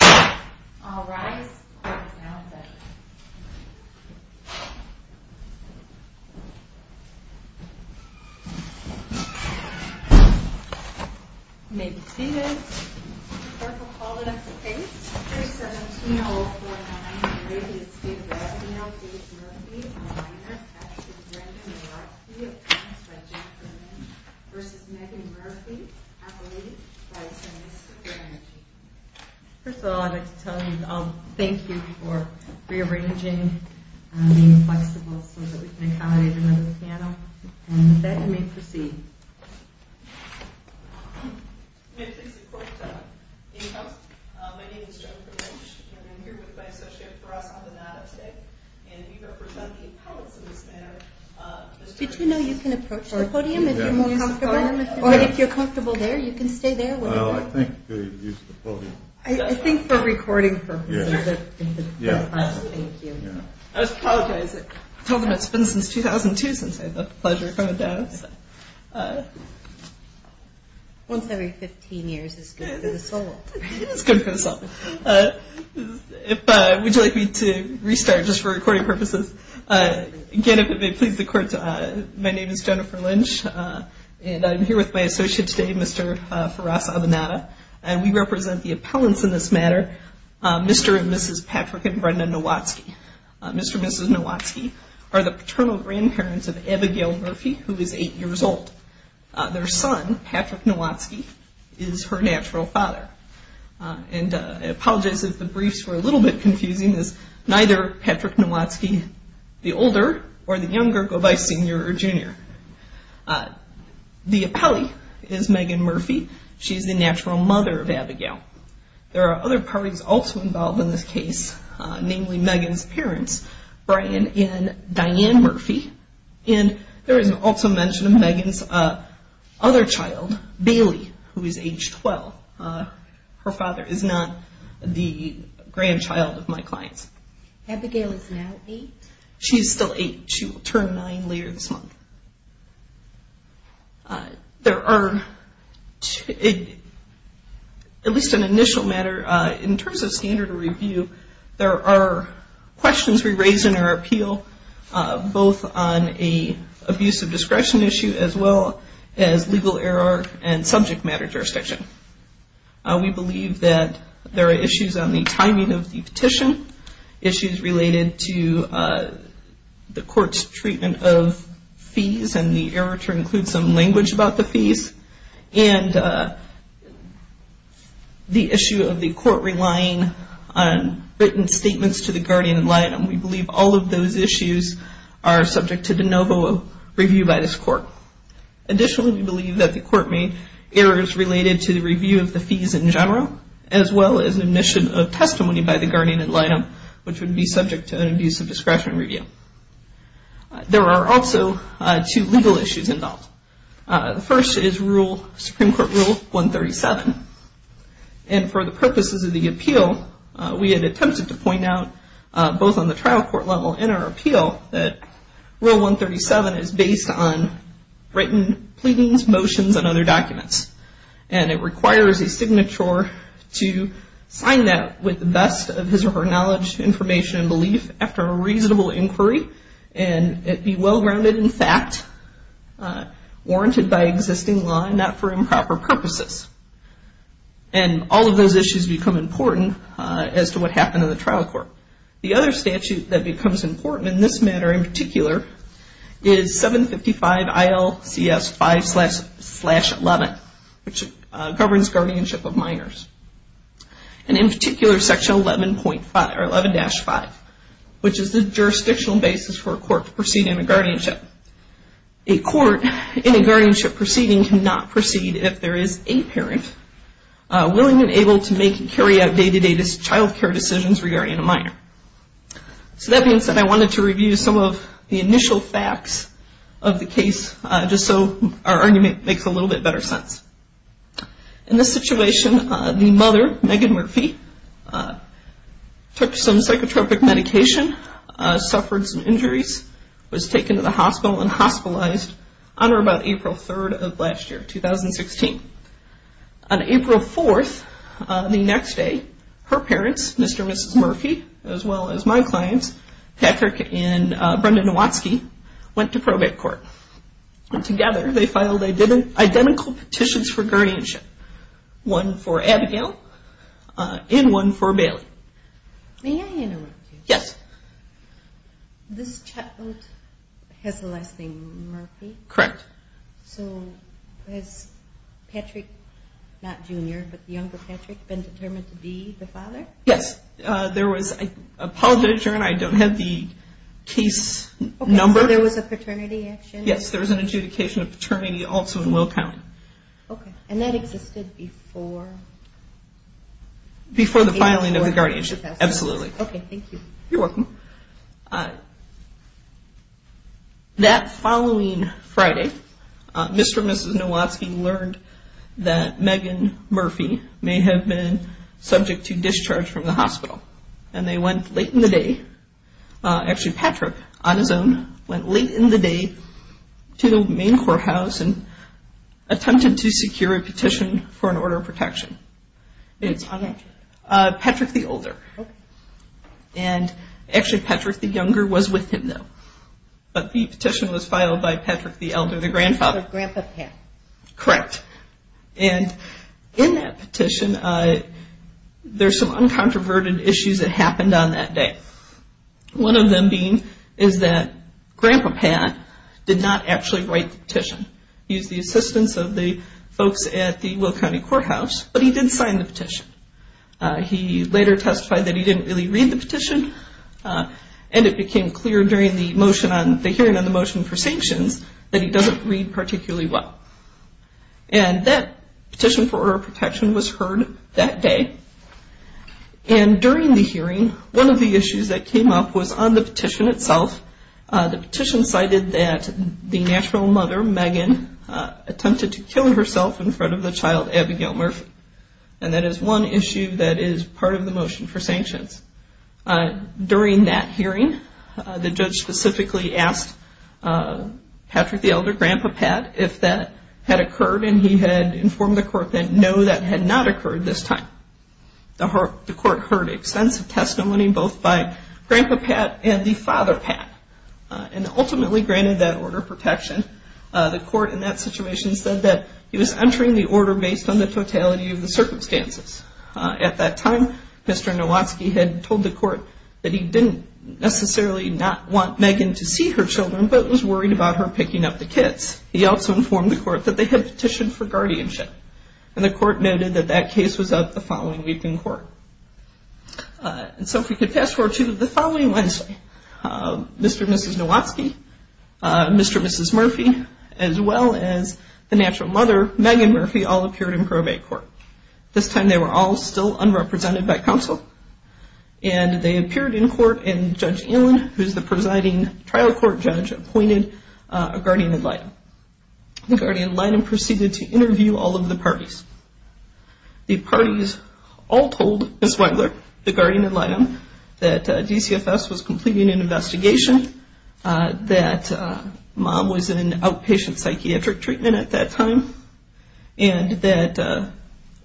All rise. Court is now in session. May be seated. The clerk will call the next case. After 17-04-19, the case is Estate of L.P. Murphy, a minor. Attached is Brenda Murphy of Towns by Jennifer Lynn versus Megan Murphy, Appalachian, by Tennis for Energy. First of all, I'd like to thank you for rearranging and being flexible so that we can accommodate another panel. And with that, you may proceed. May I please report to any host? My name is Joan Prudench. And I'm here with my associate for us on the NADA today. And we represent the appellates in this matter. Did you know you can approach the podium if you're more comfortable? Or if you're comfortable there, you can stay there. Well, I think you could use the podium. I think for recording purposes. Yeah. Thank you. I apologize. I told them it's been since 2002 since I've had the pleasure of coming down. Once every 15 years is good for the soul. It's good for the soul. Would you like me to restart just for recording purposes? Again, if it may please the court, my name is Jennifer Lynch. And I'm here with my associate today, Mr. Faras Avanada. And we represent the appellants in this matter, Mr. and Mrs. Patrick and Brenda Nowatzki. Mr. and Mrs. Nowatzki are the paternal grandparents of Abigail Murphy, who is 8 years old. Their son, Patrick Nowatzki, is her natural father. And I apologize if the briefs were a little bit confusing. Neither Patrick Nowatzki, the older or the younger, go by senior or junior. The appellee is Megan Murphy. She is the natural mother of Abigail. There are other parties also involved in this case, namely Megan's parents, Brian and Diane Murphy. And there is also mention of Megan's other child, Bailey, who is age 12. Her father is not the grandchild of my clients. Abigail is now 8? She is still 8. She will turn 9 later this month. There are, at least in initial matter, in terms of standard of review, there are questions we raise in our appeal, both on an abuse of discretion issue, as well as legal error and subject matter jurisdiction. We believe that there are issues on the timing of the petition, issues related to the court's treatment of fees and the error to include some language about the fees, and the issue of the court relying on written statements to the guardian ad litem. We believe all of those issues are subject to de novo review by this court. Additionally, we believe that the court made errors related to the review of the fees in general, as well as omission of testimony by the guardian ad litem, which would be subject to an abuse of discretion review. There are also two legal issues involved. The first is Supreme Court Rule 137. And for the purposes of the appeal, we had attempted to point out both on the trial court level and our appeal that Rule 137 is based on written pleadings, motions, and other documents. And it requires a signature to sign that with the best of his or her knowledge, information, and belief after a reasonable inquiry. And it be well-rounded in fact, warranted by existing law, not for improper purposes. And all of those issues become important as to what happened in the trial court. The other statute that becomes important in this matter in particular, is 755 ILCS 5-11, which governs guardianship of minors. And in particular, Section 11-5, which is the jurisdictional basis for a court to proceed in a guardianship. A court in a guardianship proceeding cannot proceed if there is a parent willing and able to make and carry out day-to-day child care decisions regarding a minor. So that being said, I wanted to review some of the initial facts of the case just so our argument makes a little bit better sense. In this situation, the mother, Megan Murphy, took some psychotropic medication, and hospitalized on or about April 3rd of last year, 2016. On April 4th, the next day, her parents, Mr. and Mrs. Murphy, as well as my clients, Patrick and Brenda Nowatzki, went to probate court. And together, they filed identical petitions for guardianship. One for Abigail, and one for Bailey. May I interrupt you? Yes. This child has the last name Murphy? Correct. So has Patrick, not Junior, but younger Patrick, been determined to be the father? Yes. There was a politician, I don't have the case number. So there was a paternity action? Yes, there was an adjudication of paternity also in Will County. Okay. And that existed before? Before the filing of the guardianship, absolutely. Okay, thank you. You're welcome. That following Friday, Mr. and Mrs. Nowatzki learned that Megan Murphy may have been subject to discharge from the hospital. And they went late in the day, actually Patrick, on his own, went late in the day to the main courthouse and attempted to secure a petition for an order of protection. Who's on that petition? Patrick, the older. Okay. And actually Patrick, the younger, was with him though. But the petition was filed by Patrick, the elder, the grandfather. Grandpa Pat. Correct. And in that petition, there's some uncontroverted issues that happened on that day. One of them being is that Grandpa Pat did not actually write the petition. He was the assistant of the folks at the Will County Courthouse, but he didn't sign the petition. He later testified that he didn't really read the petition, and it became clear during the hearing on the motion for sanctions that he doesn't read particularly well. And that petition for order of protection was heard that day. And during the hearing, one of the issues that came up was on the petition itself. The petition cited that the natural mother, Megan, attempted to kill herself in front of the child, Abigail Murphy. And that is one issue that is part of the motion for sanctions. During that hearing, the judge specifically asked Patrick, the elder, Grandpa Pat, if that had occurred, and he had informed the court that no, that had not occurred this time. The court heard extensive testimony both by Grandpa Pat and the father, Pat, and ultimately granted that order of protection. The court in that situation said that he was entering the order based on the totality of the circumstances. At that time, Mr. Nowatzki had told the court that he didn't necessarily not want Megan to see her children, but was worried about her picking up the kids. He also informed the court that they had petitioned for guardianship, and the court noted that that case was up the following week in court. And so if we could fast forward to the following Wednesday, Mr. and Mrs. Nowatzki, Mr. and Mrs. Murphy, as well as the natural mother, Megan Murphy, all appeared in probate court. This time they were all still unrepresented by counsel, and they appeared in court and Judge Allen, who is the presiding trial court judge, appointed a guardian ad litem. The guardian ad litem proceeded to interview all of the parties. The parties all told Ms. Wengler, the guardian ad litem, that DCFS was completing an investigation, that Mom was in outpatient psychiatric treatment at that time, and that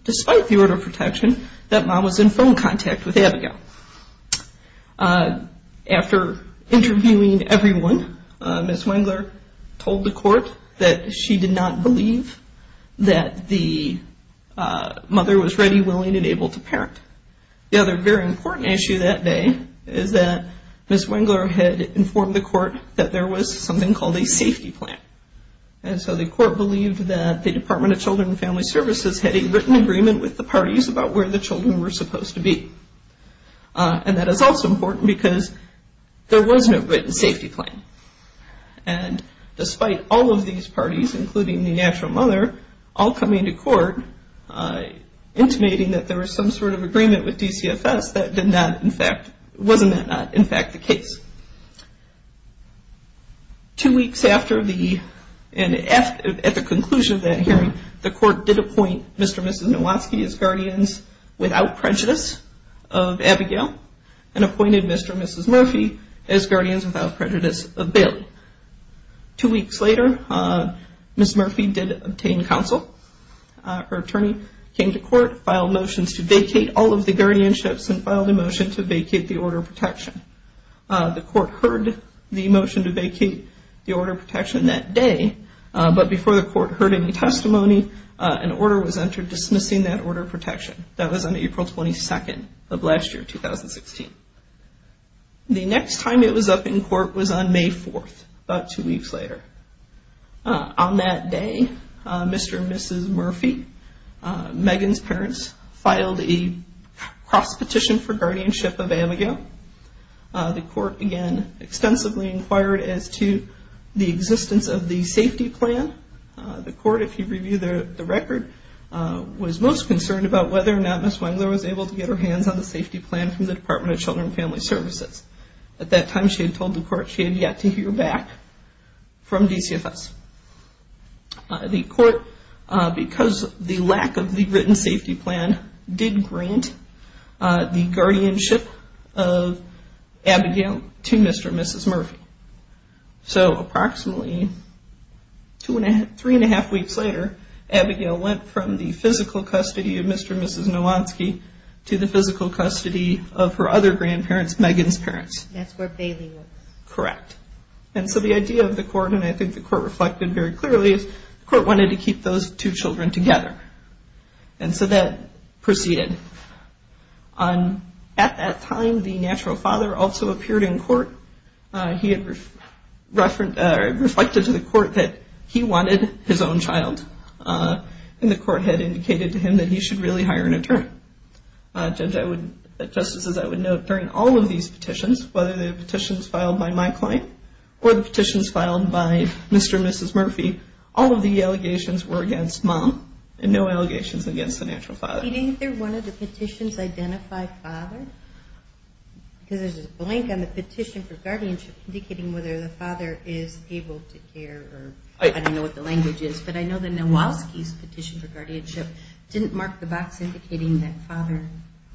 despite the order of protection, that Mom was in phone contact with Abigail. After interviewing everyone, Ms. Wengler told the court that she did not believe that the mother was ready, willing, and able to parent. The other very important issue that day is that Ms. Wengler had informed the court that there was something called a safety plan. And so the court believed that the Department of Children and Family Services had a written agreement with the parties about where the children were supposed to be. And that is also important because there was no written safety plan. And despite all of these parties, including the natural mother, all coming to court, intimating that there was some sort of agreement with DCFS, wasn't that not in fact the case? Two weeks after and at the conclusion of that hearing, the court did appoint Mr. and Mrs. Nowatzky as guardians without prejudice of Abigail and appointed Mr. and Mrs. Murphy as guardians without prejudice of Bailey. Two weeks later, Ms. Murphy did obtain counsel. Her attorney came to court, filed motions to vacate all of the guardianships and filed a motion to vacate the order of protection. The court heard the motion to vacate the order of protection that day, but before the court heard any testimony, an order was entered dismissing that order of protection. That was on April 22nd of last year, 2016. The next time it was up in court was on May 4th, about two weeks later. On that day, Mr. and Mrs. Murphy, Megan's parents, filed a cross petition for guardianship of Abigail. The court again extensively inquired as to the existence of the safety plan. The court, if you review the record, was most concerned about whether or not Ms. Wengler was able to get her hands on the safety plan from the Department of Children and Family Services. At that time, she had told the court she had yet to hear back from DCFS. The court, because of the lack of the written safety plan, did grant the guardianship of Abigail to Mr. and Mrs. Murphy. So approximately three and a half weeks later, Abigail went from the physical custody of Mr. and Mrs. Nowanski to the physical custody of her other grandparents, Megan's parents. That's where Bailey was. Correct. And so the idea of the court, and I think the court reflected very clearly, is the court wanted to keep those two children together. And so that proceeded. At that time, the natural father also appeared in court. He had reflected to the court that he wanted his own child. And the court had indicated to him that he should really hire an attorney. Just as I would note, during all of these petitions, whether the petitions filed by my client or the petitions filed by Mr. and Mrs. Murphy, all of the allegations were against mom and no allegations against the natural father. Do you think they're one of the petitions identified father? Because there's a blank on the petition for guardianship indicating whether the father is able to care or I don't know what the language is, but I know that Nowanski's petition for guardianship didn't mark the box indicating that father,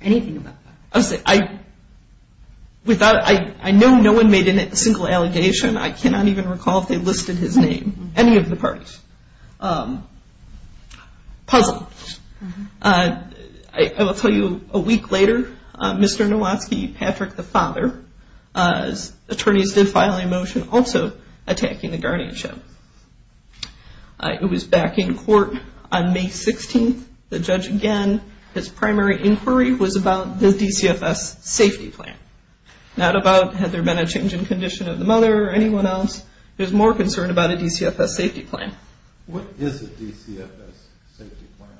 anything about father. I know no one made a single allegation. I cannot even recall if they listed his name, any of the parties. Puzzle. I will tell you a week later, Mr. Nowanski, Patrick, the father, attorneys did file a motion also attacking the guardianship. It was back in court on May 16th. The judge, again, his primary inquiry was about the DCFS safety plan. Not about had there been a change in condition of the mother or anyone else. There's more concern about a DCFS safety plan. What is a DCFS safety plan?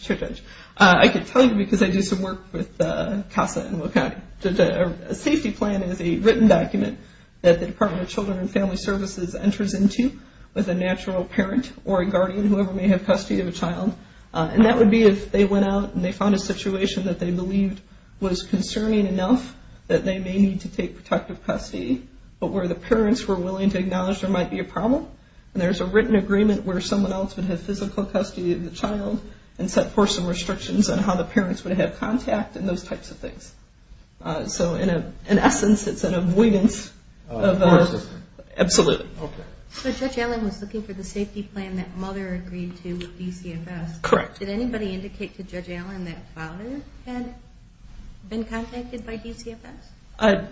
Sure, Judge. I could tell you because I do some work with CASA in Will County. A safety plan is a written document that the Department of Children and Family Services enters into with a natural parent or a guardian, whoever may have custody of a child, and that would be if they went out and they found a situation that they believed was concerning enough that they may need to take protective custody, but where the parents were willing to acknowledge there might be a problem, and there's a written agreement where someone else would have physical custody of the child and set for some restrictions on how the parents would have contact and those types of things. So in essence, it's an avoidance of that. Absolutely. Okay. So Judge Allen was looking for the safety plan that mother agreed to with DCFS. Correct. Did anybody indicate to Judge Allen that father had been contacted by DCFS?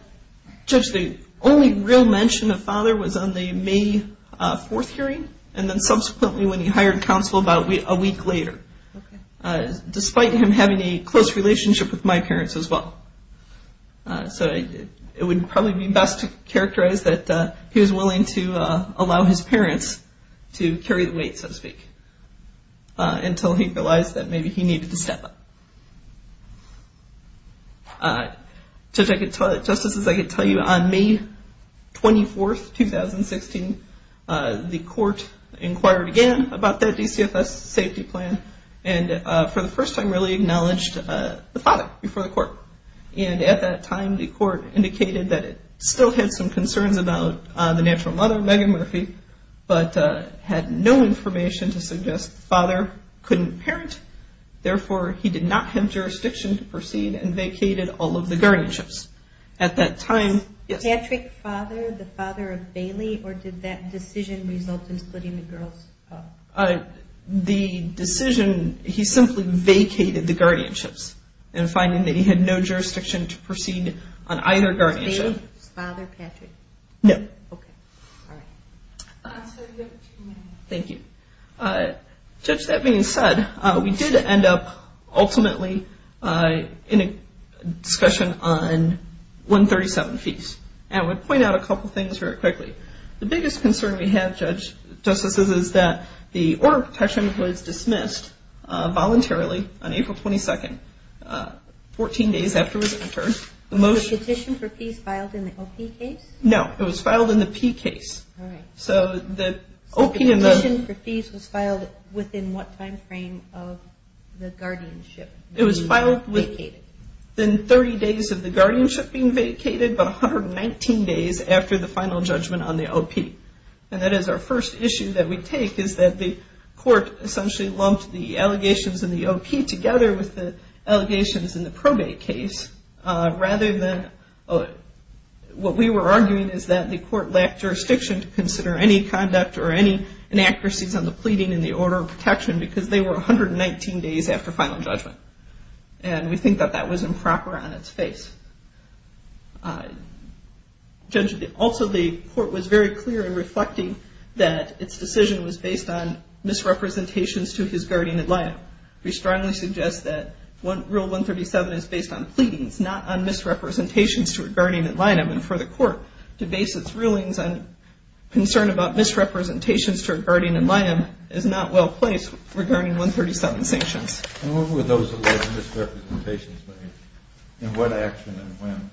Judge, the only real mention of father was on the May 4th hearing, and then subsequently when he hired counsel about a week later, despite him having a close relationship with my parents as well. So it would probably be best to characterize that he was willing to allow his parents to carry the weight, so to speak, until he realized that maybe he needed to step up. Justice, as I could tell you, on May 24th, 2016, the court inquired again about that DCFS safety plan and for the first time really acknowledged the father before the court. And at that time, the court indicated that it still had some concerns about the natural mother, Megan Murphy, but had no information to suggest the father couldn't parent, therefore he did not have jurisdiction to proceed and vacated all of the guardianships. At that time, yes? Was Patrick father the father of Bailey, or did that decision result in splitting the girls up? The decision, he simply vacated the guardianships in finding that he had no jurisdiction to proceed on either guardianship. Was Bailey his father, Patrick? No. Okay. All right. Thank you. Judge, that being said, we did end up ultimately in a discussion on 137 fees. I would point out a couple things very quickly. The biggest concern we have, Justice, is that the order of protection was dismissed voluntarily on April 22nd, 14 days after his intern. Was the petition for fees filed in the OP case? No, it was filed in the P case. All right. The petition for fees was filed within what time frame of the guardianship? It was filed within 30 days of the guardianship being vacated, but 119 days after the final judgment on the OP. And that is our first issue that we take, is that the court essentially lumped the allegations in the OP together with the allegations in the probate case, rather than what we were arguing is that the court lacked jurisdiction to consider any conduct or any inaccuracies on the pleading in the order of protection because they were 119 days after final judgment. And we think that that was improper on its face. Judge, also the court was very clear in reflecting that its decision was based on misrepresentations to his guardian in line. We strongly suggest that Rule 137 is based on pleadings, not on misrepresentations to a guardian in line. And for the court to base its rulings on concern about misrepresentations to a guardian in line is not well placed regarding 137 sanctions. And what were those alleged misrepresentations made? In what action and when?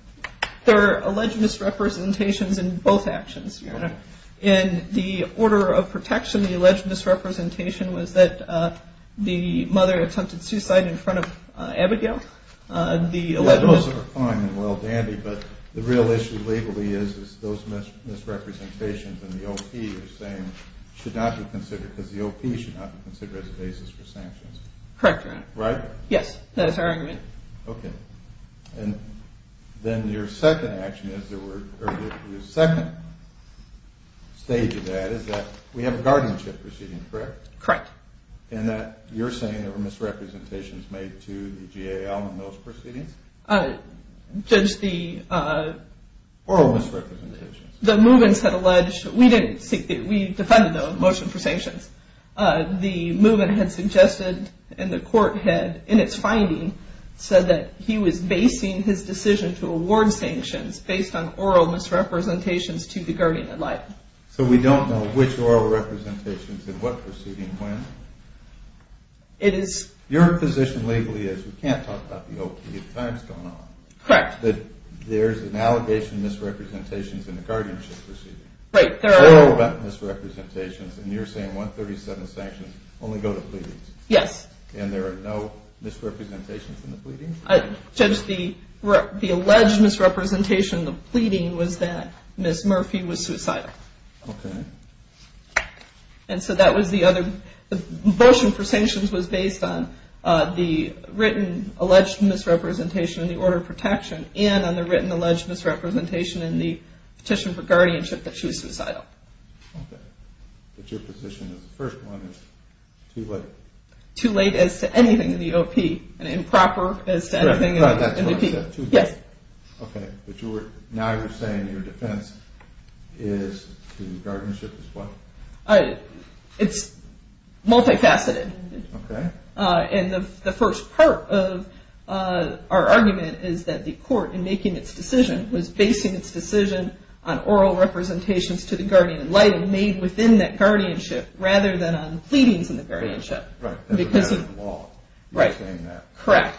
They're alleged misrepresentations in both actions, Your Honor. In the order of protection, the alleged misrepresentation was that the mother attempted suicide in front of Abigail. Those are fine and well dandy, but the real issue legally is those misrepresentations in the OP you're saying should not be considered, because the OP should not be considered as a basis for sanctions. Correct, Your Honor. Right? Yes, that is our argument. Okay. And then your second action is there were, or the second stage of that is that we have a guardianship proceeding, correct? Correct. And that you're saying there were misrepresentations made to the GAL in those proceedings? Judge, the... Oral misrepresentations. The Movens had alleged, we defended the motion for sanctions. The Moven had suggested, and the court had, in its finding, said that he was basing his decision to award sanctions based on oral misrepresentations to the guardian in line. So we don't know which oral representations in what proceeding when? It is... Your position legally is you can't talk about the OP. The time has gone on. Correct. There's an allegation of misrepresentations in the guardianship proceeding. Right. There are... There are oral misrepresentations, and you're saying 137 sanctions only go to pleadings. Yes. And there are no misrepresentations in the pleadings? Judge, the alleged misrepresentation in the pleading was that Ms. Murphy was suicidal. Okay. And so that was the other... The motion for sanctions was based on the written alleged misrepresentation in the order of protection and on the written alleged misrepresentation in the petition for guardianship that she was suicidal. Okay. But your position is the first one is too late. Too late as to anything in the OP and improper as to anything in the OP. Yes. Okay. But now you're saying your defense is the guardianship is what? It's multifaceted. Okay. And the first part of our argument is that the court, in making its decision, was basing its decision on oral representations to the guardian enlightened made within that guardianship rather than on pleadings in the guardianship. Right. That's a matter of law. Right. You're saying that. Correct.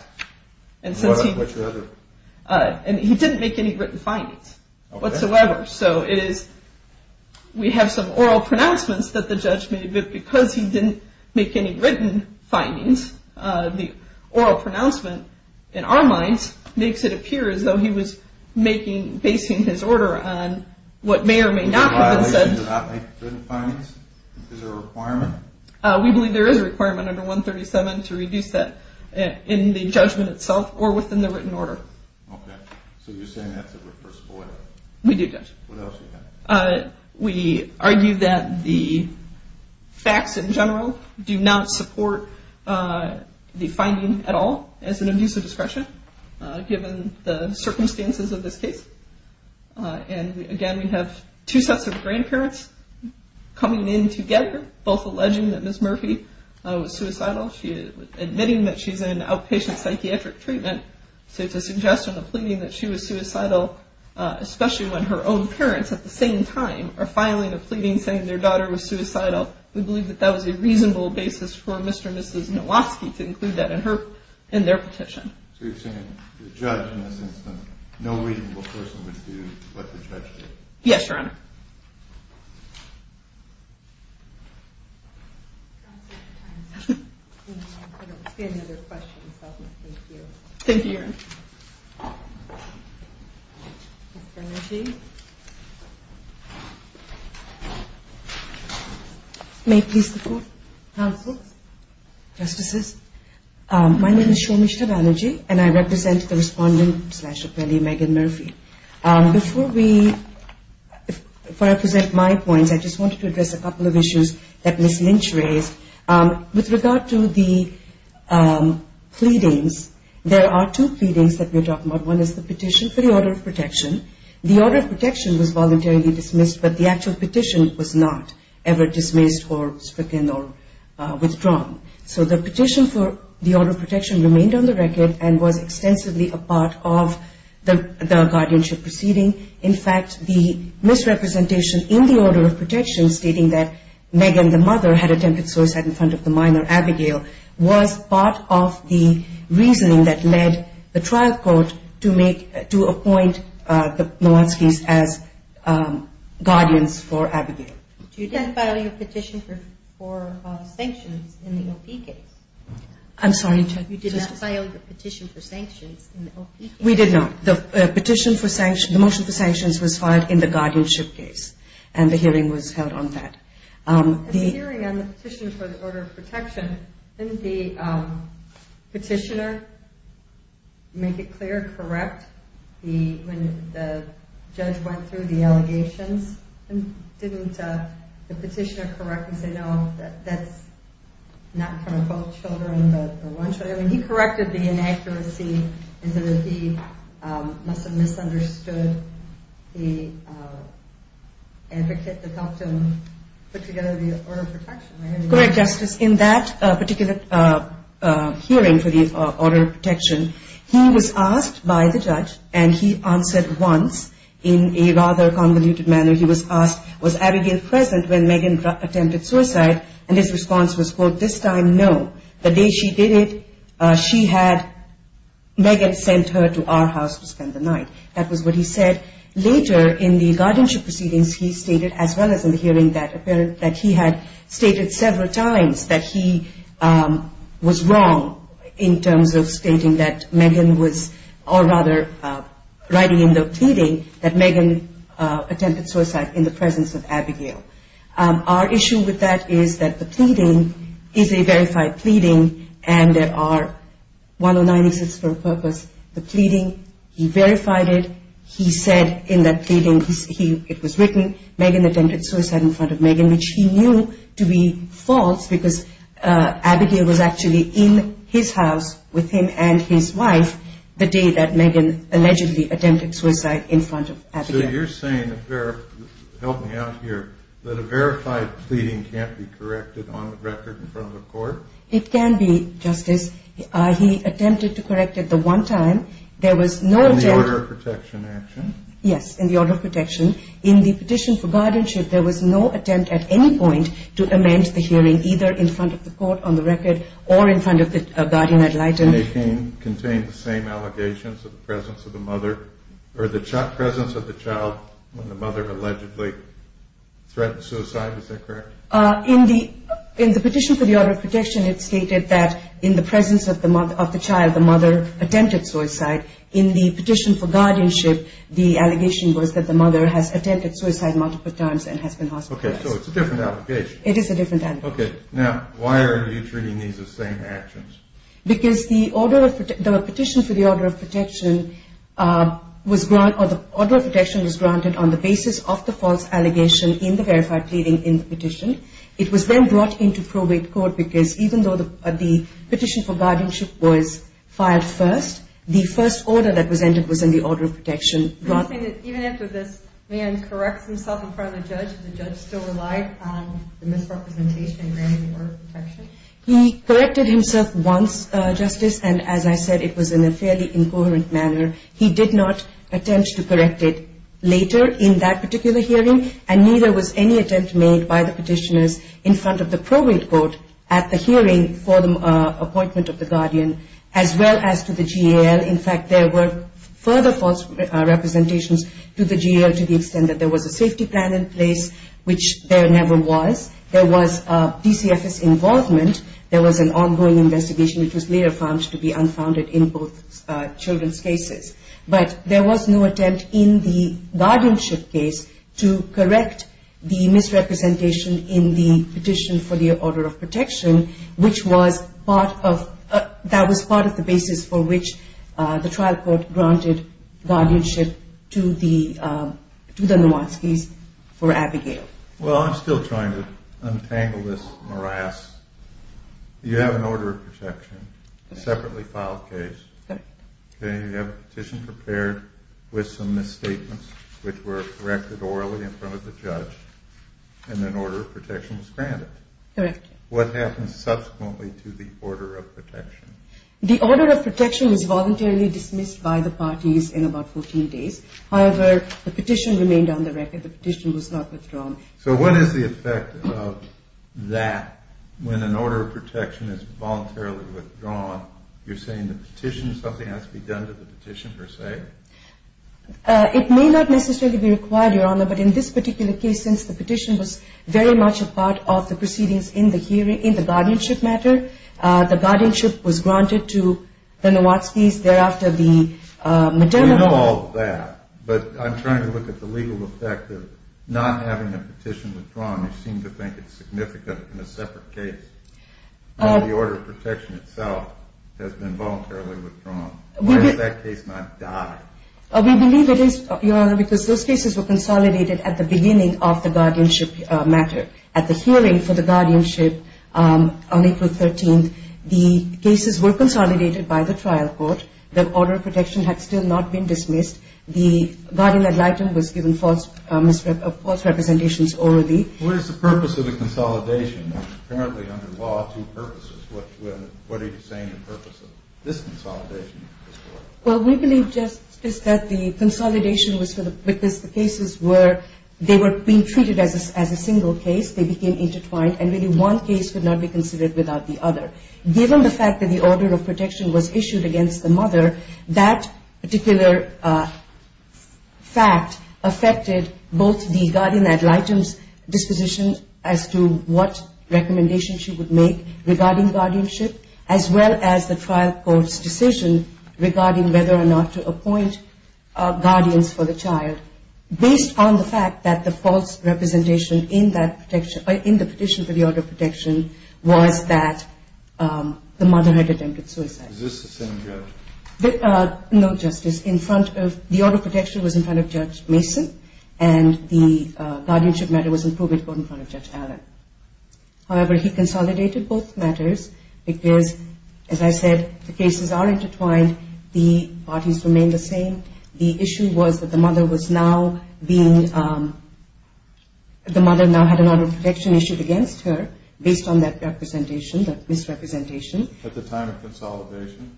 And since he... He didn't make any written findings. Okay. Whatsoever. So it is... We have some oral pronouncements that the judge made, but because he didn't make any written findings, the oral pronouncement, in our minds, makes it appear as though he was making, basing his order on what may or may not have been said. Is it a violation to not make written findings? Is there a requirement? We believe there is a requirement under 137 to reduce that in the judgment itself or within the written order. Okay. So you're saying that's a repressibility? We do, Judge. What else do you have? We argue that the facts, in general, do not support the finding at all as an abuse of discretion, given the circumstances of this case. And, again, we have two sets of grandparents coming in together, both alleging that Ms. Murphy was suicidal, admitting that she's in outpatient psychiatric treatment. So it's a suggestion of pleading that she was suicidal, especially when her own parents, at the same time, are filing a pleading saying their daughter was suicidal. We believe that that was a reasonable basis for Mr. and Mrs. Nowoski to include that in their petition. So you're saying the judge, in a sense, that no reasonable person would do what the judge did? Yes, Your Honor. I don't see any other questions. Thank you. Thank you, Your Honor. Ms. Banerjee. May it please the Court, Counsel, Justices, my name is Shomesh Banerjee, and I represent the respondent slash appellee, Megan Murphy. Before I present my points, I just wanted to address a couple of issues that Ms. Lynch raised. With regard to the pleadings, there are two pleadings that we're talking about. One is the petition for the order of protection. The order of protection was voluntarily dismissed, but the actual petition was not ever dismissed or stricken or withdrawn. So the petition for the order of protection remained on the record and was extensively a part of the guardianship proceeding. In fact, the misrepresentation in the order of protection, stating that Megan, the mother, had attempted suicide in front of the minor, Abigail, was part of the reasoning that led the trial court to make, to appoint the Nowoskis as guardians for Abigail. You did file your petition for sanctions in the O.P. case. I'm sorry, Justice? You did not file your petition for sanctions in the O.P. case. We did not. The motion for sanctions was filed in the guardianship case, and the hearing was held on that. The hearing on the petition for the order of protection, didn't the petitioner make it clear, correct, when the judge went through the allegations? Didn't the petitioner correct and say, No, that's not from both children or one child. I mean, he corrected the inaccuracy in that he must have misunderstood the advocate that helped him put together the order of protection. Correct, Justice. In that particular hearing for the order of protection, he was asked by the judge, and he answered once in a rather convoluted manner. He was asked, Was Abigail present when Megan attempted suicide? And his response was, quote, This time, no. The day she did it, she had, Megan sent her to our house to spend the night. That was what he said. Later in the guardianship proceedings, he stated, as well as in the hearing, that he had stated several times that he was wrong in terms of stating that Megan was, or rather, writing in the pleading that Megan attempted suicide in the presence of Abigail. Our issue with that is that the pleading is a verified pleading, and there are 109 exits for a purpose. The pleading, he verified it. He said in that pleading, it was written, Megan attempted suicide in front of Megan, which he knew to be false because Abigail was actually in his house with him and his wife the day that Megan allegedly attempted suicide in front of Abigail. So you're saying, help me out here, that a verified pleading can't be corrected on record in front of the court? It can be, Justice. He attempted to correct it the one time. In the order of protection action? Yes, in the order of protection. In the petition for guardianship, there was no attempt at any point to amend the hearing, either in front of the court on the record or in front of the guardian ad litem. Megan contained the same allegations of the presence of the mother, or the presence of the child when the mother allegedly threatened suicide. Is that correct? In the petition for the order of protection, it stated that in the presence of the child, the mother attempted suicide. In the petition for guardianship, the allegation was that the mother has attempted suicide multiple times and has been hospitalized. Okay, so it's a different allegation. It is a different allegation. Okay, now why are you treating these as same actions? Because the petition for the order of protection was granted on the basis of the false allegation in the verified pleading in the petition. It was then brought into probate court because even though the petition for guardianship was filed first, the first order that was entered was in the order of protection. You're saying that even after this man corrects himself in front of the judge, the judge still relied on the misrepresentation in granting the order of protection? He corrected himself once, Justice, and as I said, it was in a fairly incoherent manner. He did not attempt to correct it later in that particular hearing, and neither was any attempt made by the petitioners in front of the probate court at the hearing for the appointment of the guardian as well as to the GAL. In fact, there were further false representations to the GAL to the extent that there was a safety plan in place, which there never was. There was PCFS involvement. There was an ongoing investigation which was later found to be unfounded in both children's cases. But there was no attempt in the guardianship case to correct the misrepresentation in the petition for the order of protection, which was part of the basis for which the trial court granted guardianship to the Nowanskis for Abigail. Well, I'm still trying to untangle this morass. You have an order of protection, a separately filed case. Correct. You have a petition prepared with some misstatements which were corrected orally in front of the judge, and an order of protection was granted. Correct. What happened subsequently to the order of protection? The order of protection was voluntarily dismissed by the parties in about 14 days. However, the petition remained on the record. The petition was not withdrawn. So what is the effect of that? When an order of protection is voluntarily withdrawn, you're saying the petition, something has to be done to the petition per se? It may not necessarily be required, Your Honor, but in this particular case since the petition was very much a part of the proceedings in the guardianship matter, the guardianship was granted to the Nowanskis thereafter the maternal. We know all that, but I'm trying to look at the legal effect of not having a petition withdrawn. You seem to think it's significant in a separate case that the order of protection itself has been voluntarily withdrawn. Why does that case not die? We believe it is, Your Honor, because those cases were consolidated at the beginning of the guardianship matter. At the hearing for the guardianship on April 13th, the cases were consolidated by the trial court. The order of protection had still not been dismissed. The guardian ad litem was given false representations orally. What is the purpose of the consolidation? Apparently under law, two purposes. What are you saying the purpose of this consolidation is for? Well, we believe just that the consolidation was for the, because the cases were, they were being treated as a single case, they became intertwined, and really one case could not be considered without the other. That particular fact affected both the guardian ad litem's disposition as to what recommendations she would make regarding guardianship, as well as the trial court's decision regarding whether or not to appoint guardians for the child, based on the fact that the false representation in that petition, in the petition for the order of protection, was that the mother had attempted suicide. Is this the same judge? No, Justice. In front of, the order of protection was in front of Judge Mason, and the guardianship matter was in probate court in front of Judge Allen. However, he consolidated both matters because, as I said, the cases are intertwined. The parties remain the same. The issue was that the mother was now being, the mother now had an order of protection issued against her, based on that representation, that misrepresentation. At the time of consolidation?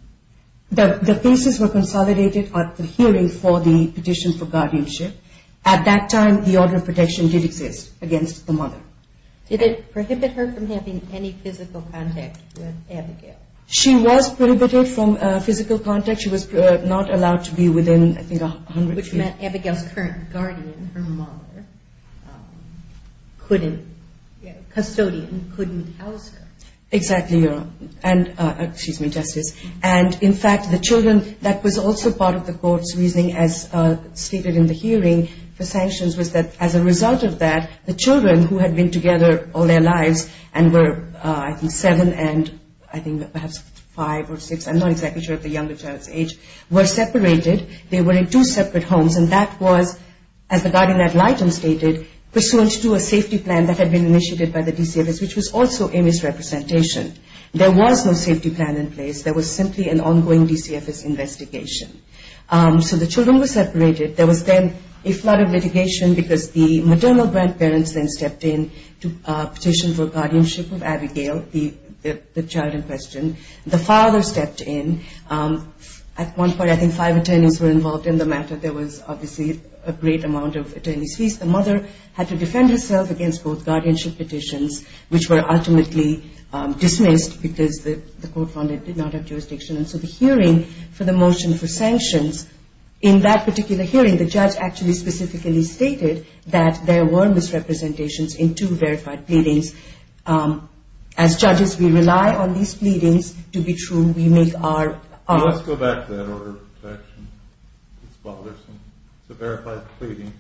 The cases were consolidated at the hearing for the petition for guardianship. At that time, the order of protection did exist against the mother. Did it prohibit her from having any physical contact with Abigail? She was prohibited from physical contact. She was not allowed to be within, I think, a hundred feet. Which meant Abigail's current guardian, her mother, couldn't, custodian, couldn't house her. Exactly, Your Honor. And, excuse me, Justice. And, in fact, the children, that was also part of the court's reasoning, as stated in the hearing, for sanctions, was that as a result of that, the children, who had been together all their lives, and were, I think, seven and, I think, perhaps five or six, I'm not exactly sure, at the younger child's age, were separated. They were in two separate homes, and that was, as the guardian ad litem stated, pursuant to a safety plan that had been initiated by the DCFS, which was also a misrepresentation. There was no safety plan in place. There was simply an ongoing DCFS investigation. So the children were separated. There was then a flood of litigation because the maternal grandparents then stepped in to petition for guardianship of Abigail, the child in question. The father stepped in. At one point, I think, five attorneys were involved in the matter. There was, obviously, a great amount of attorney's fees. The mother had to defend herself against both guardianship petitions, which were ultimately dismissed because the court found it did not have jurisdiction. And so the hearing for the motion for sanctions, in that particular hearing, the judge actually specifically stated that there were misrepresentations in two verified pleadings. As judges, we rely on these pleadings to be true. We make our own. Well, let's go back to that order of protection, Ms. Balderson. The verified pleading,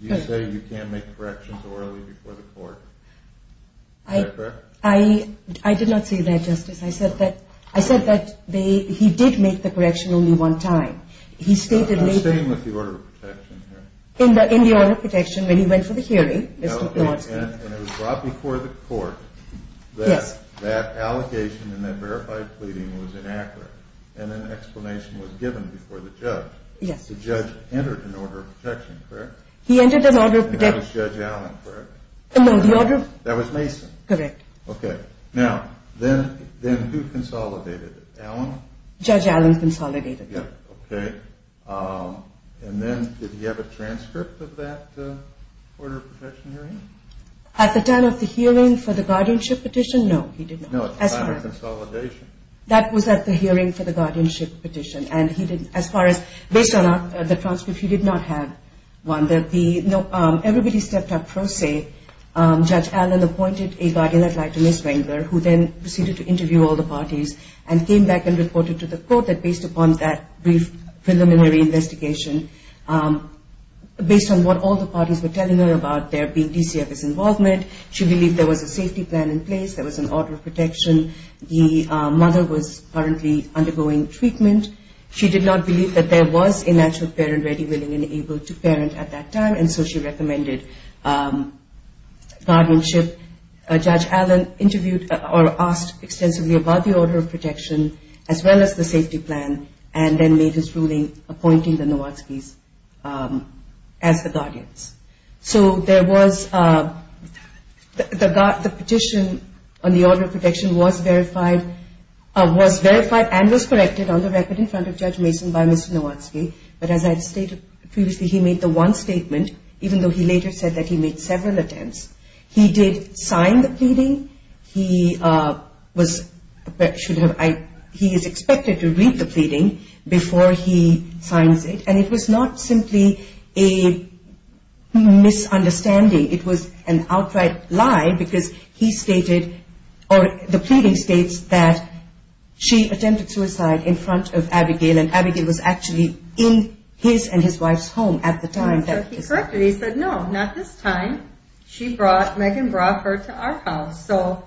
you say you can't make corrections orally before the court. Is that correct? I did not say that, Justice. I said that he did make the correction only one time. He stated later. The same with the order of protection here. In the order of protection, when he went for the hearing, Mr. Glonsky. And it was brought before the court that that allegation in that verified pleading was inaccurate and an explanation was given before the judge. Yes. The judge entered an order of protection, correct? He entered an order of protection. And that was Judge Allen, correct? No, the order of. That was Mason. Correct. Okay. Now, then who consolidated it? Allen? Judge Allen consolidated it. Okay. And then did he have a transcript of that order of protection hearing? At the time of the hearing for the guardianship petition? No, he did not. No, at the time of consolidation. That was at the hearing for the guardianship petition. And he didn't. As far as based on the transcript, he did not have one. Everybody stepped up pro se. Judge Allen appointed a guardian adjutant, Ms. Wengler, who then proceeded to interview all the parties and came back and reported to the court that based upon that brief preliminary investigation, based on what all the parties were telling her about there being DCF's involvement, she believed there was a safety plan in place, there was an order of protection, the mother was currently undergoing treatment. She did not believe that there was a natural parent ready, willing, and able to parent at that time, and so she recommended guardianship. Judge Allen interviewed or asked extensively about the order of protection as well as the safety plan and then made his ruling appointing the Nowatzkis as the guardians. So there was the petition on the order of protection was verified and was corrected on the record in front of Judge Mason by Mr. Nowatzki, but as I stated previously, he made the one statement, even though he later said that he made several attempts. He did sign the pleading. He is expected to read the pleading before he signs it, and it was not simply a misunderstanding. It was an outright lie because the pleading states that she attempted suicide in front of Abigail and Abigail was actually in his and his wife's home at the time. So he corrected it. He said, no, not this time. She brought, Megan brought her to our house. So,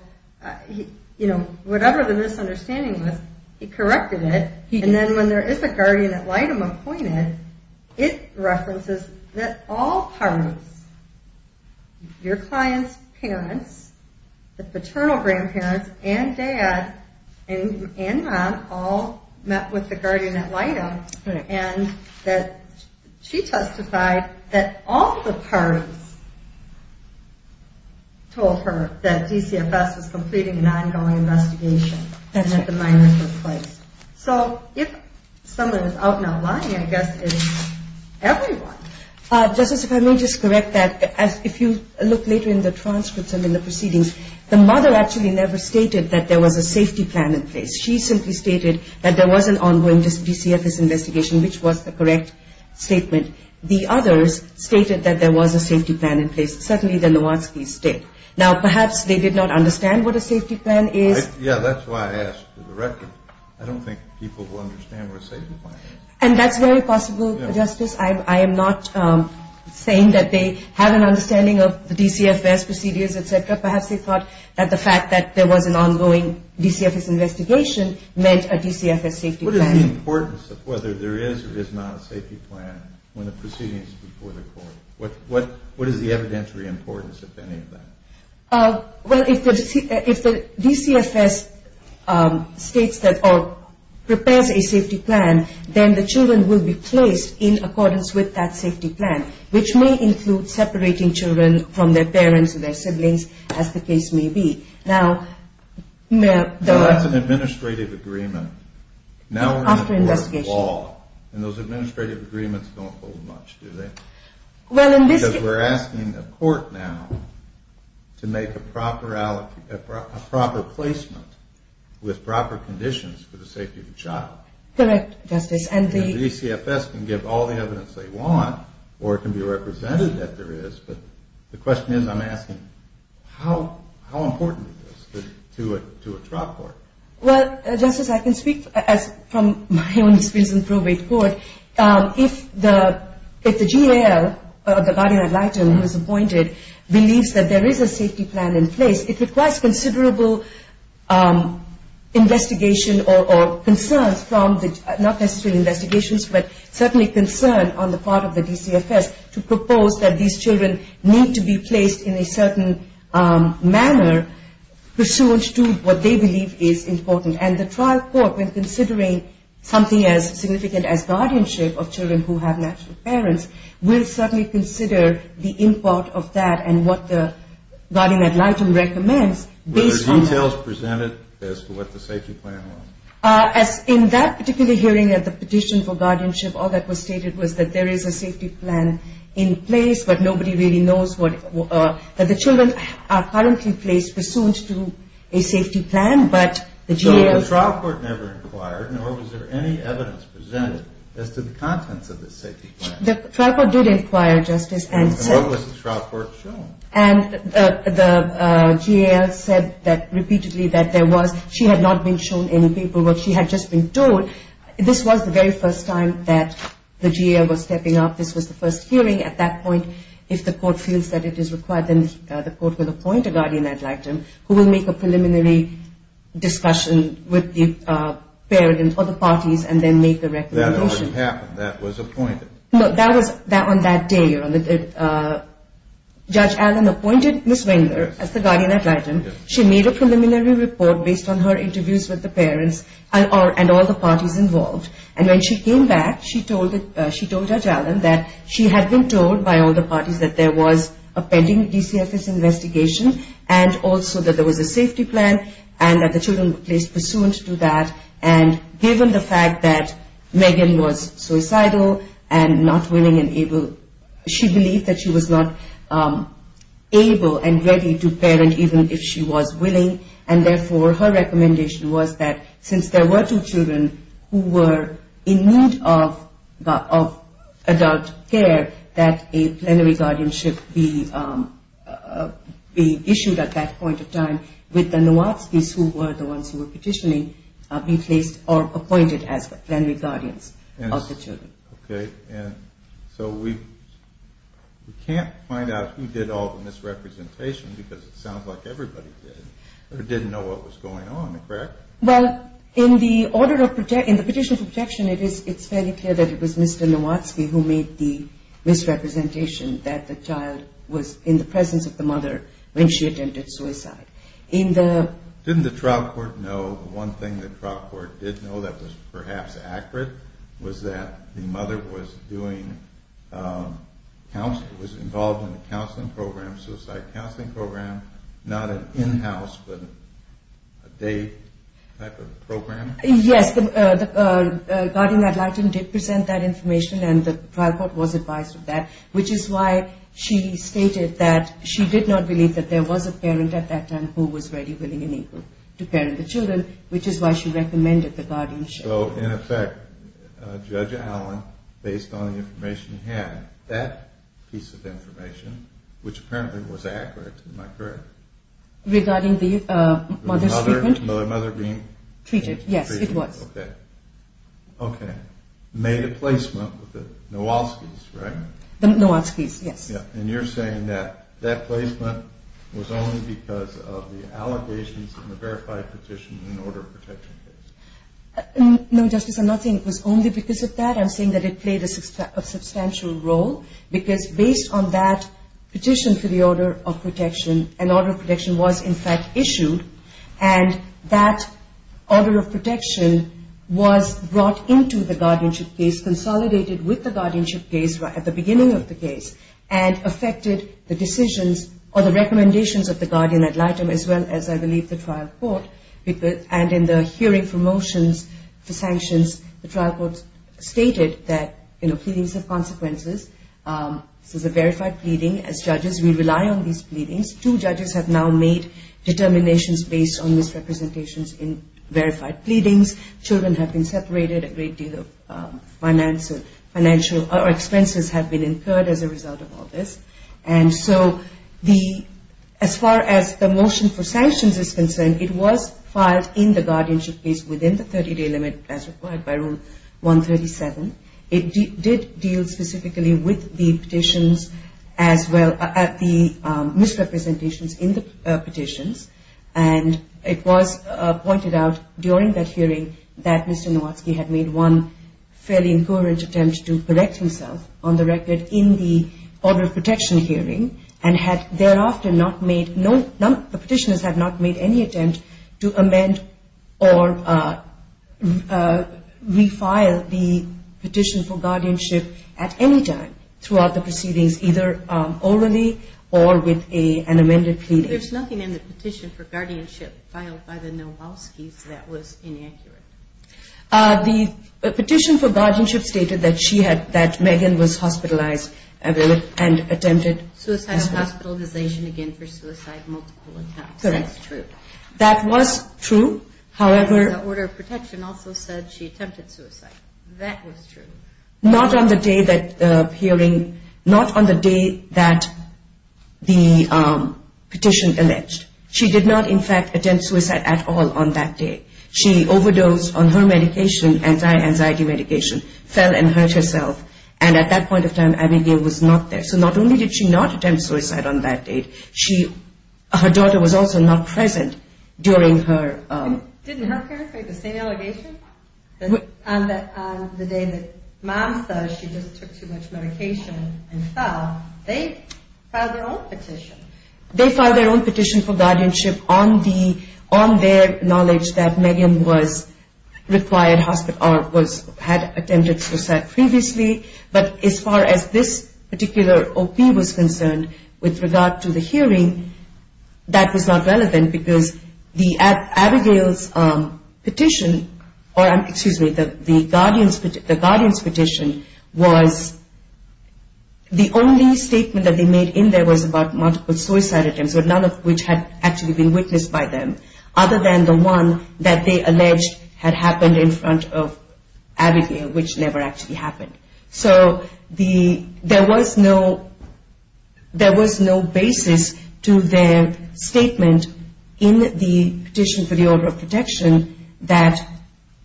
you know, whatever the misunderstanding was, he corrected it. And then when there is a guardian ad litem appointed, it references that all parents, your clients' parents, the paternal grandparents, and dad and mom all met with the guardian ad litem and that she testified that all the parties told her that DCFS was completing an ongoing investigation and that the miners were placed. So if someone is out now lying, I guess it's everyone. Justice, if I may just correct that, if you look later in the transcripts and in the proceedings, the mother actually never stated that there was a safety plan in place. She simply stated that there was an ongoing DCFS investigation, which was the correct statement. The others stated that there was a safety plan in place. Certainly the Nowatzkis did. Now, perhaps they did not understand what a safety plan is. Yeah, that's why I asked for the record. I don't think people will understand what a safety plan is. And that's very possible, Justice. I am not saying that they have an understanding of the DCFS procedures, et cetera. Perhaps they thought that the fact that there was an ongoing DCFS investigation meant a DCFS safety plan. What is the importance of whether there is or is not a safety plan when the proceeding is before the court? What is the evidentiary importance of any of that? Well, if the DCFS states that or prepares a safety plan, then the children will be placed in accordance with that safety plan, which may include separating children from their parents and their siblings, as the case may be. Now, may I... Now, that's an administrative agreement. After investigation. And those administrative agreements don't hold much, do they? Well, in this case... Because we're asking the court now to make a proper placement with proper conditions for the safety of the child. Correct, Justice. And the DCFS can give all the evidence they want, or it can be represented that there is. But the question is, I'm asking, how important is this to a trial court? Well, Justice, I can speak from my own experience in probate court. If the GAL, the guardian ad litem who is appointed, believes that there is a safety plan in place, it requires considerable investigation or concerns from the, not necessarily investigations, but certainly concern on the part of the DCFS to propose that these children need to be placed in a certain manner, pursuant to what they believe is important. And the trial court, when considering something as significant as guardianship of children who have natural parents, will certainly consider the import of that and what the guardian ad litem recommends based on... Were there details presented as to what the safety plan was? In that particular hearing at the petition for guardianship, all that was stated was that there is a safety plan in place, but nobody really knows that the children are currently placed pursuant to a safety plan, but the GAL... So the trial court never inquired, nor was there any evidence presented as to the contents of the safety plan? The trial court did inquire, Justice, and... And what was the trial court shown? And the GAL said repeatedly that she had not been shown any paperwork. She had just been told. This was the very first time that the GAL was stepping up. This was the first hearing at that point. If the court feels that it is required, then the court will appoint a guardian ad litem who will make a preliminary discussion with the parent or the parties and then make a recommendation. That already happened. That was appointed. No, that was on that day. Judge Allen appointed Ms. Wengler as the guardian ad litem. She made a preliminary report based on her interviews with the parents and all the parties involved. And when she came back, she told Judge Allen that she had been told by all the parties that there was a pending DCFS investigation and also that there was a safety plan and that the children were placed pursuant to that. And given the fact that Megan was suicidal and not willing and able, she believed that she was not able and ready to parent even if she was willing. And therefore, her recommendation was that since there were two children who were in need of adult care, that a plenary guardianship be issued at that point of time with the Nowatzkis, who were the ones who were petitioning, be placed or appointed as plenary guardians of the children. Okay. And so we can't find out who did all the misrepresentation because it sounds like everybody did or didn't know what was going on, correct? Well, in the petition for protection, it's fairly clear that it was Mr. Nowatzki who made the misrepresentation that the child was in the presence of the mother when she attempted suicide. Didn't the trial court know, the one thing the trial court did know that was perhaps accurate, was that the mother was involved in a counseling program, a suicide counseling program, not an in-house but a day type of program? Yes, the guardian ad litem did present that information and the trial court was advised of that, which is why she stated that she did not believe that there was a parent at that time who was ready, willing, and able to parent the children, which is why she recommended the guardianship. So, in effect, Judge Allen, based on the information he had, that piece of information, which apparently was accurate, am I correct? Regarding the mother's treatment? The mother being treated? Yes, it was. Okay. Okay. Nowatzki made a placement with the Nowatzkis, right? The Nowatzkis, yes. And you're saying that that placement was only because of the allegations in the verified petition in the order of protection case? No, Justice, I'm not saying it was only because of that. I'm saying that it played a substantial role because based on that petition for the order of protection, an order of protection was, in fact, issued, and that order of protection was brought into the guardianship case, consolidated with the guardianship case at the beginning of the case, and affected the decisions or the recommendations of the guardian ad litem as well as, I believe, the trial court. And in the hearing for motions, the sanctions, the trial court stated that, you know, we rely on these pleadings. Two judges have now made determinations based on misrepresentations in verified pleadings. Children have been separated. A great deal of expenses have been incurred as a result of all this. And so as far as the motion for sanctions is concerned, it was filed in the guardianship case within the 30-day limit as required by Rule 137. It did deal specifically with the petitions as well as the misrepresentations in the petitions, and it was pointed out during that hearing that Mr. Nowatzki had made one fairly incoherent attempt to correct himself, on the record, in the order of protection hearing, and had thereafter not made, the petitioners have not made any attempt to amend or refile the petition for guardianship at any time throughout the proceedings, either orally or with an amended pleading. There's nothing in the petition for guardianship filed by the Nowatzkis that was inaccurate. The petition for guardianship stated that she had, that Megan was hospitalized and attempted suicide. Suicide, hospitalization again for suicide, multiple attacks. Correct. That's true. That was true. However. The order of protection also said she attempted suicide. That was true. Not on the day that hearing, not on the day that the petition alleged. She did not, in fact, attempt suicide at all on that day. She overdosed on her medication, anti-anxiety medication, fell and hurt herself, and at that point of time Abigail was not there. So not only did she not attempt suicide on that date, she, her daughter was also not present during her. Didn't her parents make the same allegation? On the day that mom says she just took too much medication and fell, they filed their own petition. They filed their own petition for guardianship on the, on their knowledge that Megan was required, had attempted suicide previously, but as far as this particular OP was concerned, with regard to the hearing, that was not relevant because Abigail's petition, or excuse me, the guardians petition was, the only statement that they made in there was about multiple suicide attempts, but none of which had actually been witnessed by them, other than the one that they alleged had happened in front of Abigail, which never actually happened. So the, there was no, there was no basis to their statement in the petition for the order of protection that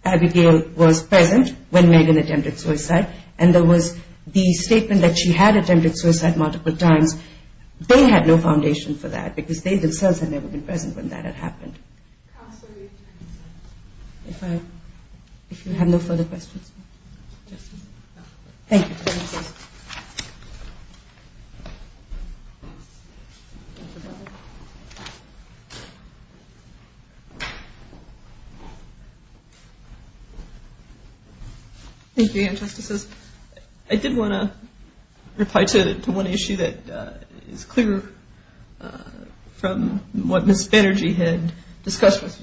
Abigail was present when Megan attempted suicide, and there was the statement that she had attempted suicide multiple times. They had no foundation for that because they themselves had never been present when that had happened. If I, if you have no further questions. Thank you. Thank you again, Justices. I did want to reply to one issue that is clear from what Ms. Banerjee had discussed with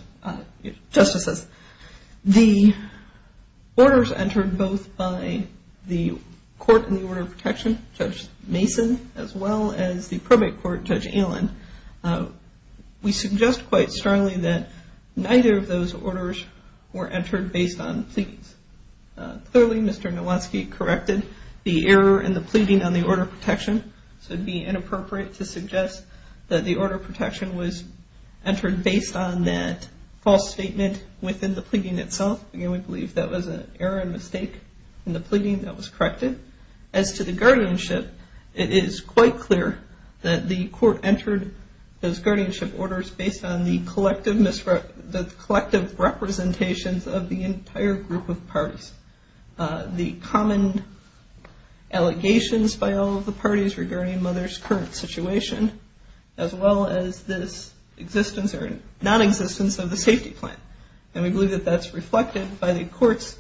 Justices. The orders entered both by the court in the order of protection, Judge Mason, as well as the probate court, Judge Allen, we suggest quite strongly that neither of those orders were entered based on pleadings. Clearly, Mr. Nowatzki corrected the error in the pleading on the order of protection, so it would be inappropriate to suggest that the order of protection was entered based on that false statement within the pleading itself. Again, we believe that was an error and mistake in the pleading that was corrected. As to the guardianship, it is quite clear that the court entered those guardianship orders based on the collective, the collective representations of the entire group of parties. The common allegations by all of the parties regarding a mother's current situation, as well as this existence or nonexistence of the safety plan. And we believe that that's reflected by the court's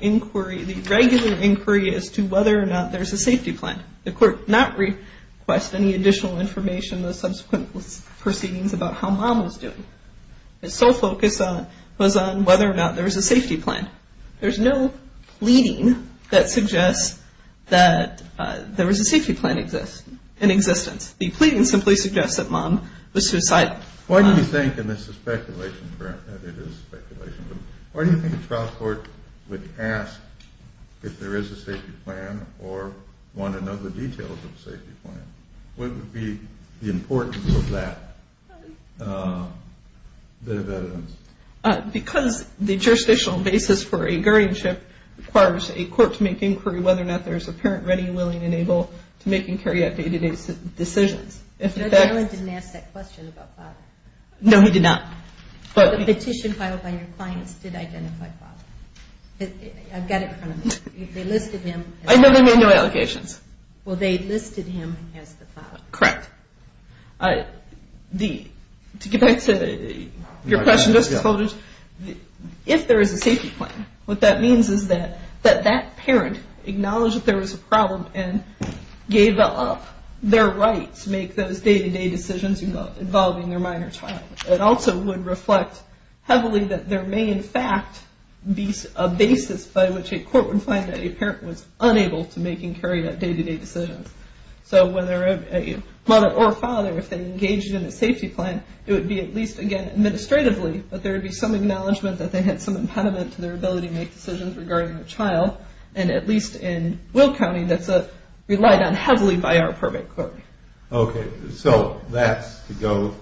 inquiry, the regular inquiry as to whether or not there's a safety plan. The court did not request any additional information in the subsequent proceedings about how mom was doing. Its sole focus was on whether or not there was a safety plan. There's no pleading that suggests that there was a safety plan in existence. The pleading simply suggests that mom was suicidal. Why do you think, and this is speculation, and it is speculation, but why do you think a trial court would ask if there is a safety plan or want to know the details of a safety plan? What would be the importance of that bit of evidence? Because the jurisdictional basis for a guardianship requires a court to make inquiry whether or not there's a parent ready, willing, and able to make and carry out day-to-day decisions. Judge Allen didn't ask that question about Bob. No, he did not. But the petition filed by your clients did identify Bob. I've got it in front of me. They listed him. I know they made no allegations. Well, they listed him as the father. Correct. To get back to your question, Justice Folgers, if there is a safety plan, what that means is that that parent acknowledged that there was a problem and gave up their right to make those day-to-day decisions involving their minor child. It also would reflect heavily that there may in fact be a basis by which a court would find that a parent was unable to make and carry out day-to-day decisions. So whether a mother or father, if they engaged in a safety plan, it would be at least, again, administratively, but there would be some acknowledgment that they had some impediment to their ability to make decisions regarding their child, and at least in Will County, that's relied on heavily by our probate court. Okay. So that's to go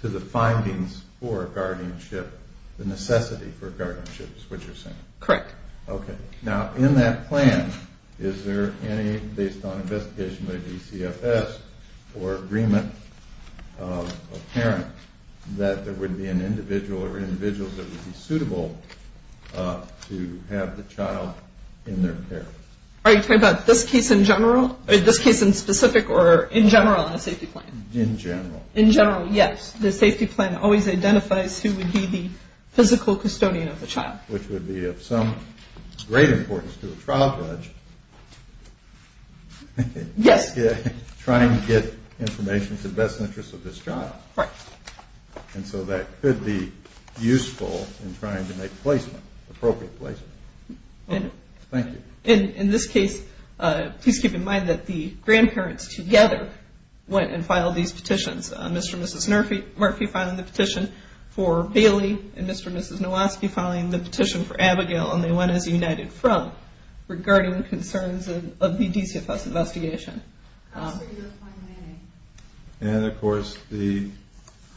to the findings for guardianship, the necessity for guardianship, is what you're saying? Correct. Okay. Now, in that plan, is there any, based on investigation by DCFS, or agreement of a parent that there would be an individual or individuals that would be suitable to have the child in their care? Are you talking about this case in general? This case in specific or in general in a safety plan? In general. In general, yes. The safety plan always identifies who would be the physical custodian of the child. Which would be of some great importance to a trial judge. Yes. Trying to get information to the best interest of this child. Right. And so that could be useful in trying to make placement, appropriate placement. Thank you. In this case, please keep in mind that the grandparents together went and filed these petitions, Mr. and Mrs. Murphy filing the petition for Bailey and Mr. and Mrs. Nowoski filing the petition for Abigail, and they went as a united front regarding concerns of the DCFS investigation. And, of course, the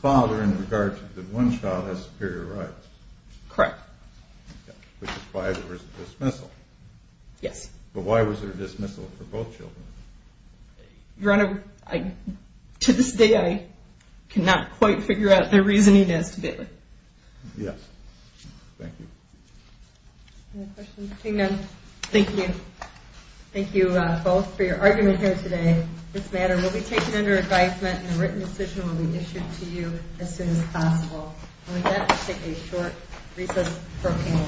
father, in regards to the one child, has superior rights. Correct. Which is why there was a dismissal. Yes. But why was there a dismissal for both children? Your Honor, to this day I cannot quite figure out the reasoning as to Bailey. Yes. Thank you. Any questions? Okay, then. Thank you. Thank you both for your argument here today. This matter will be taken under advisement and a written decision will be issued to you as soon as possible. And with that, we'll take a short recess for opinion. Thank you.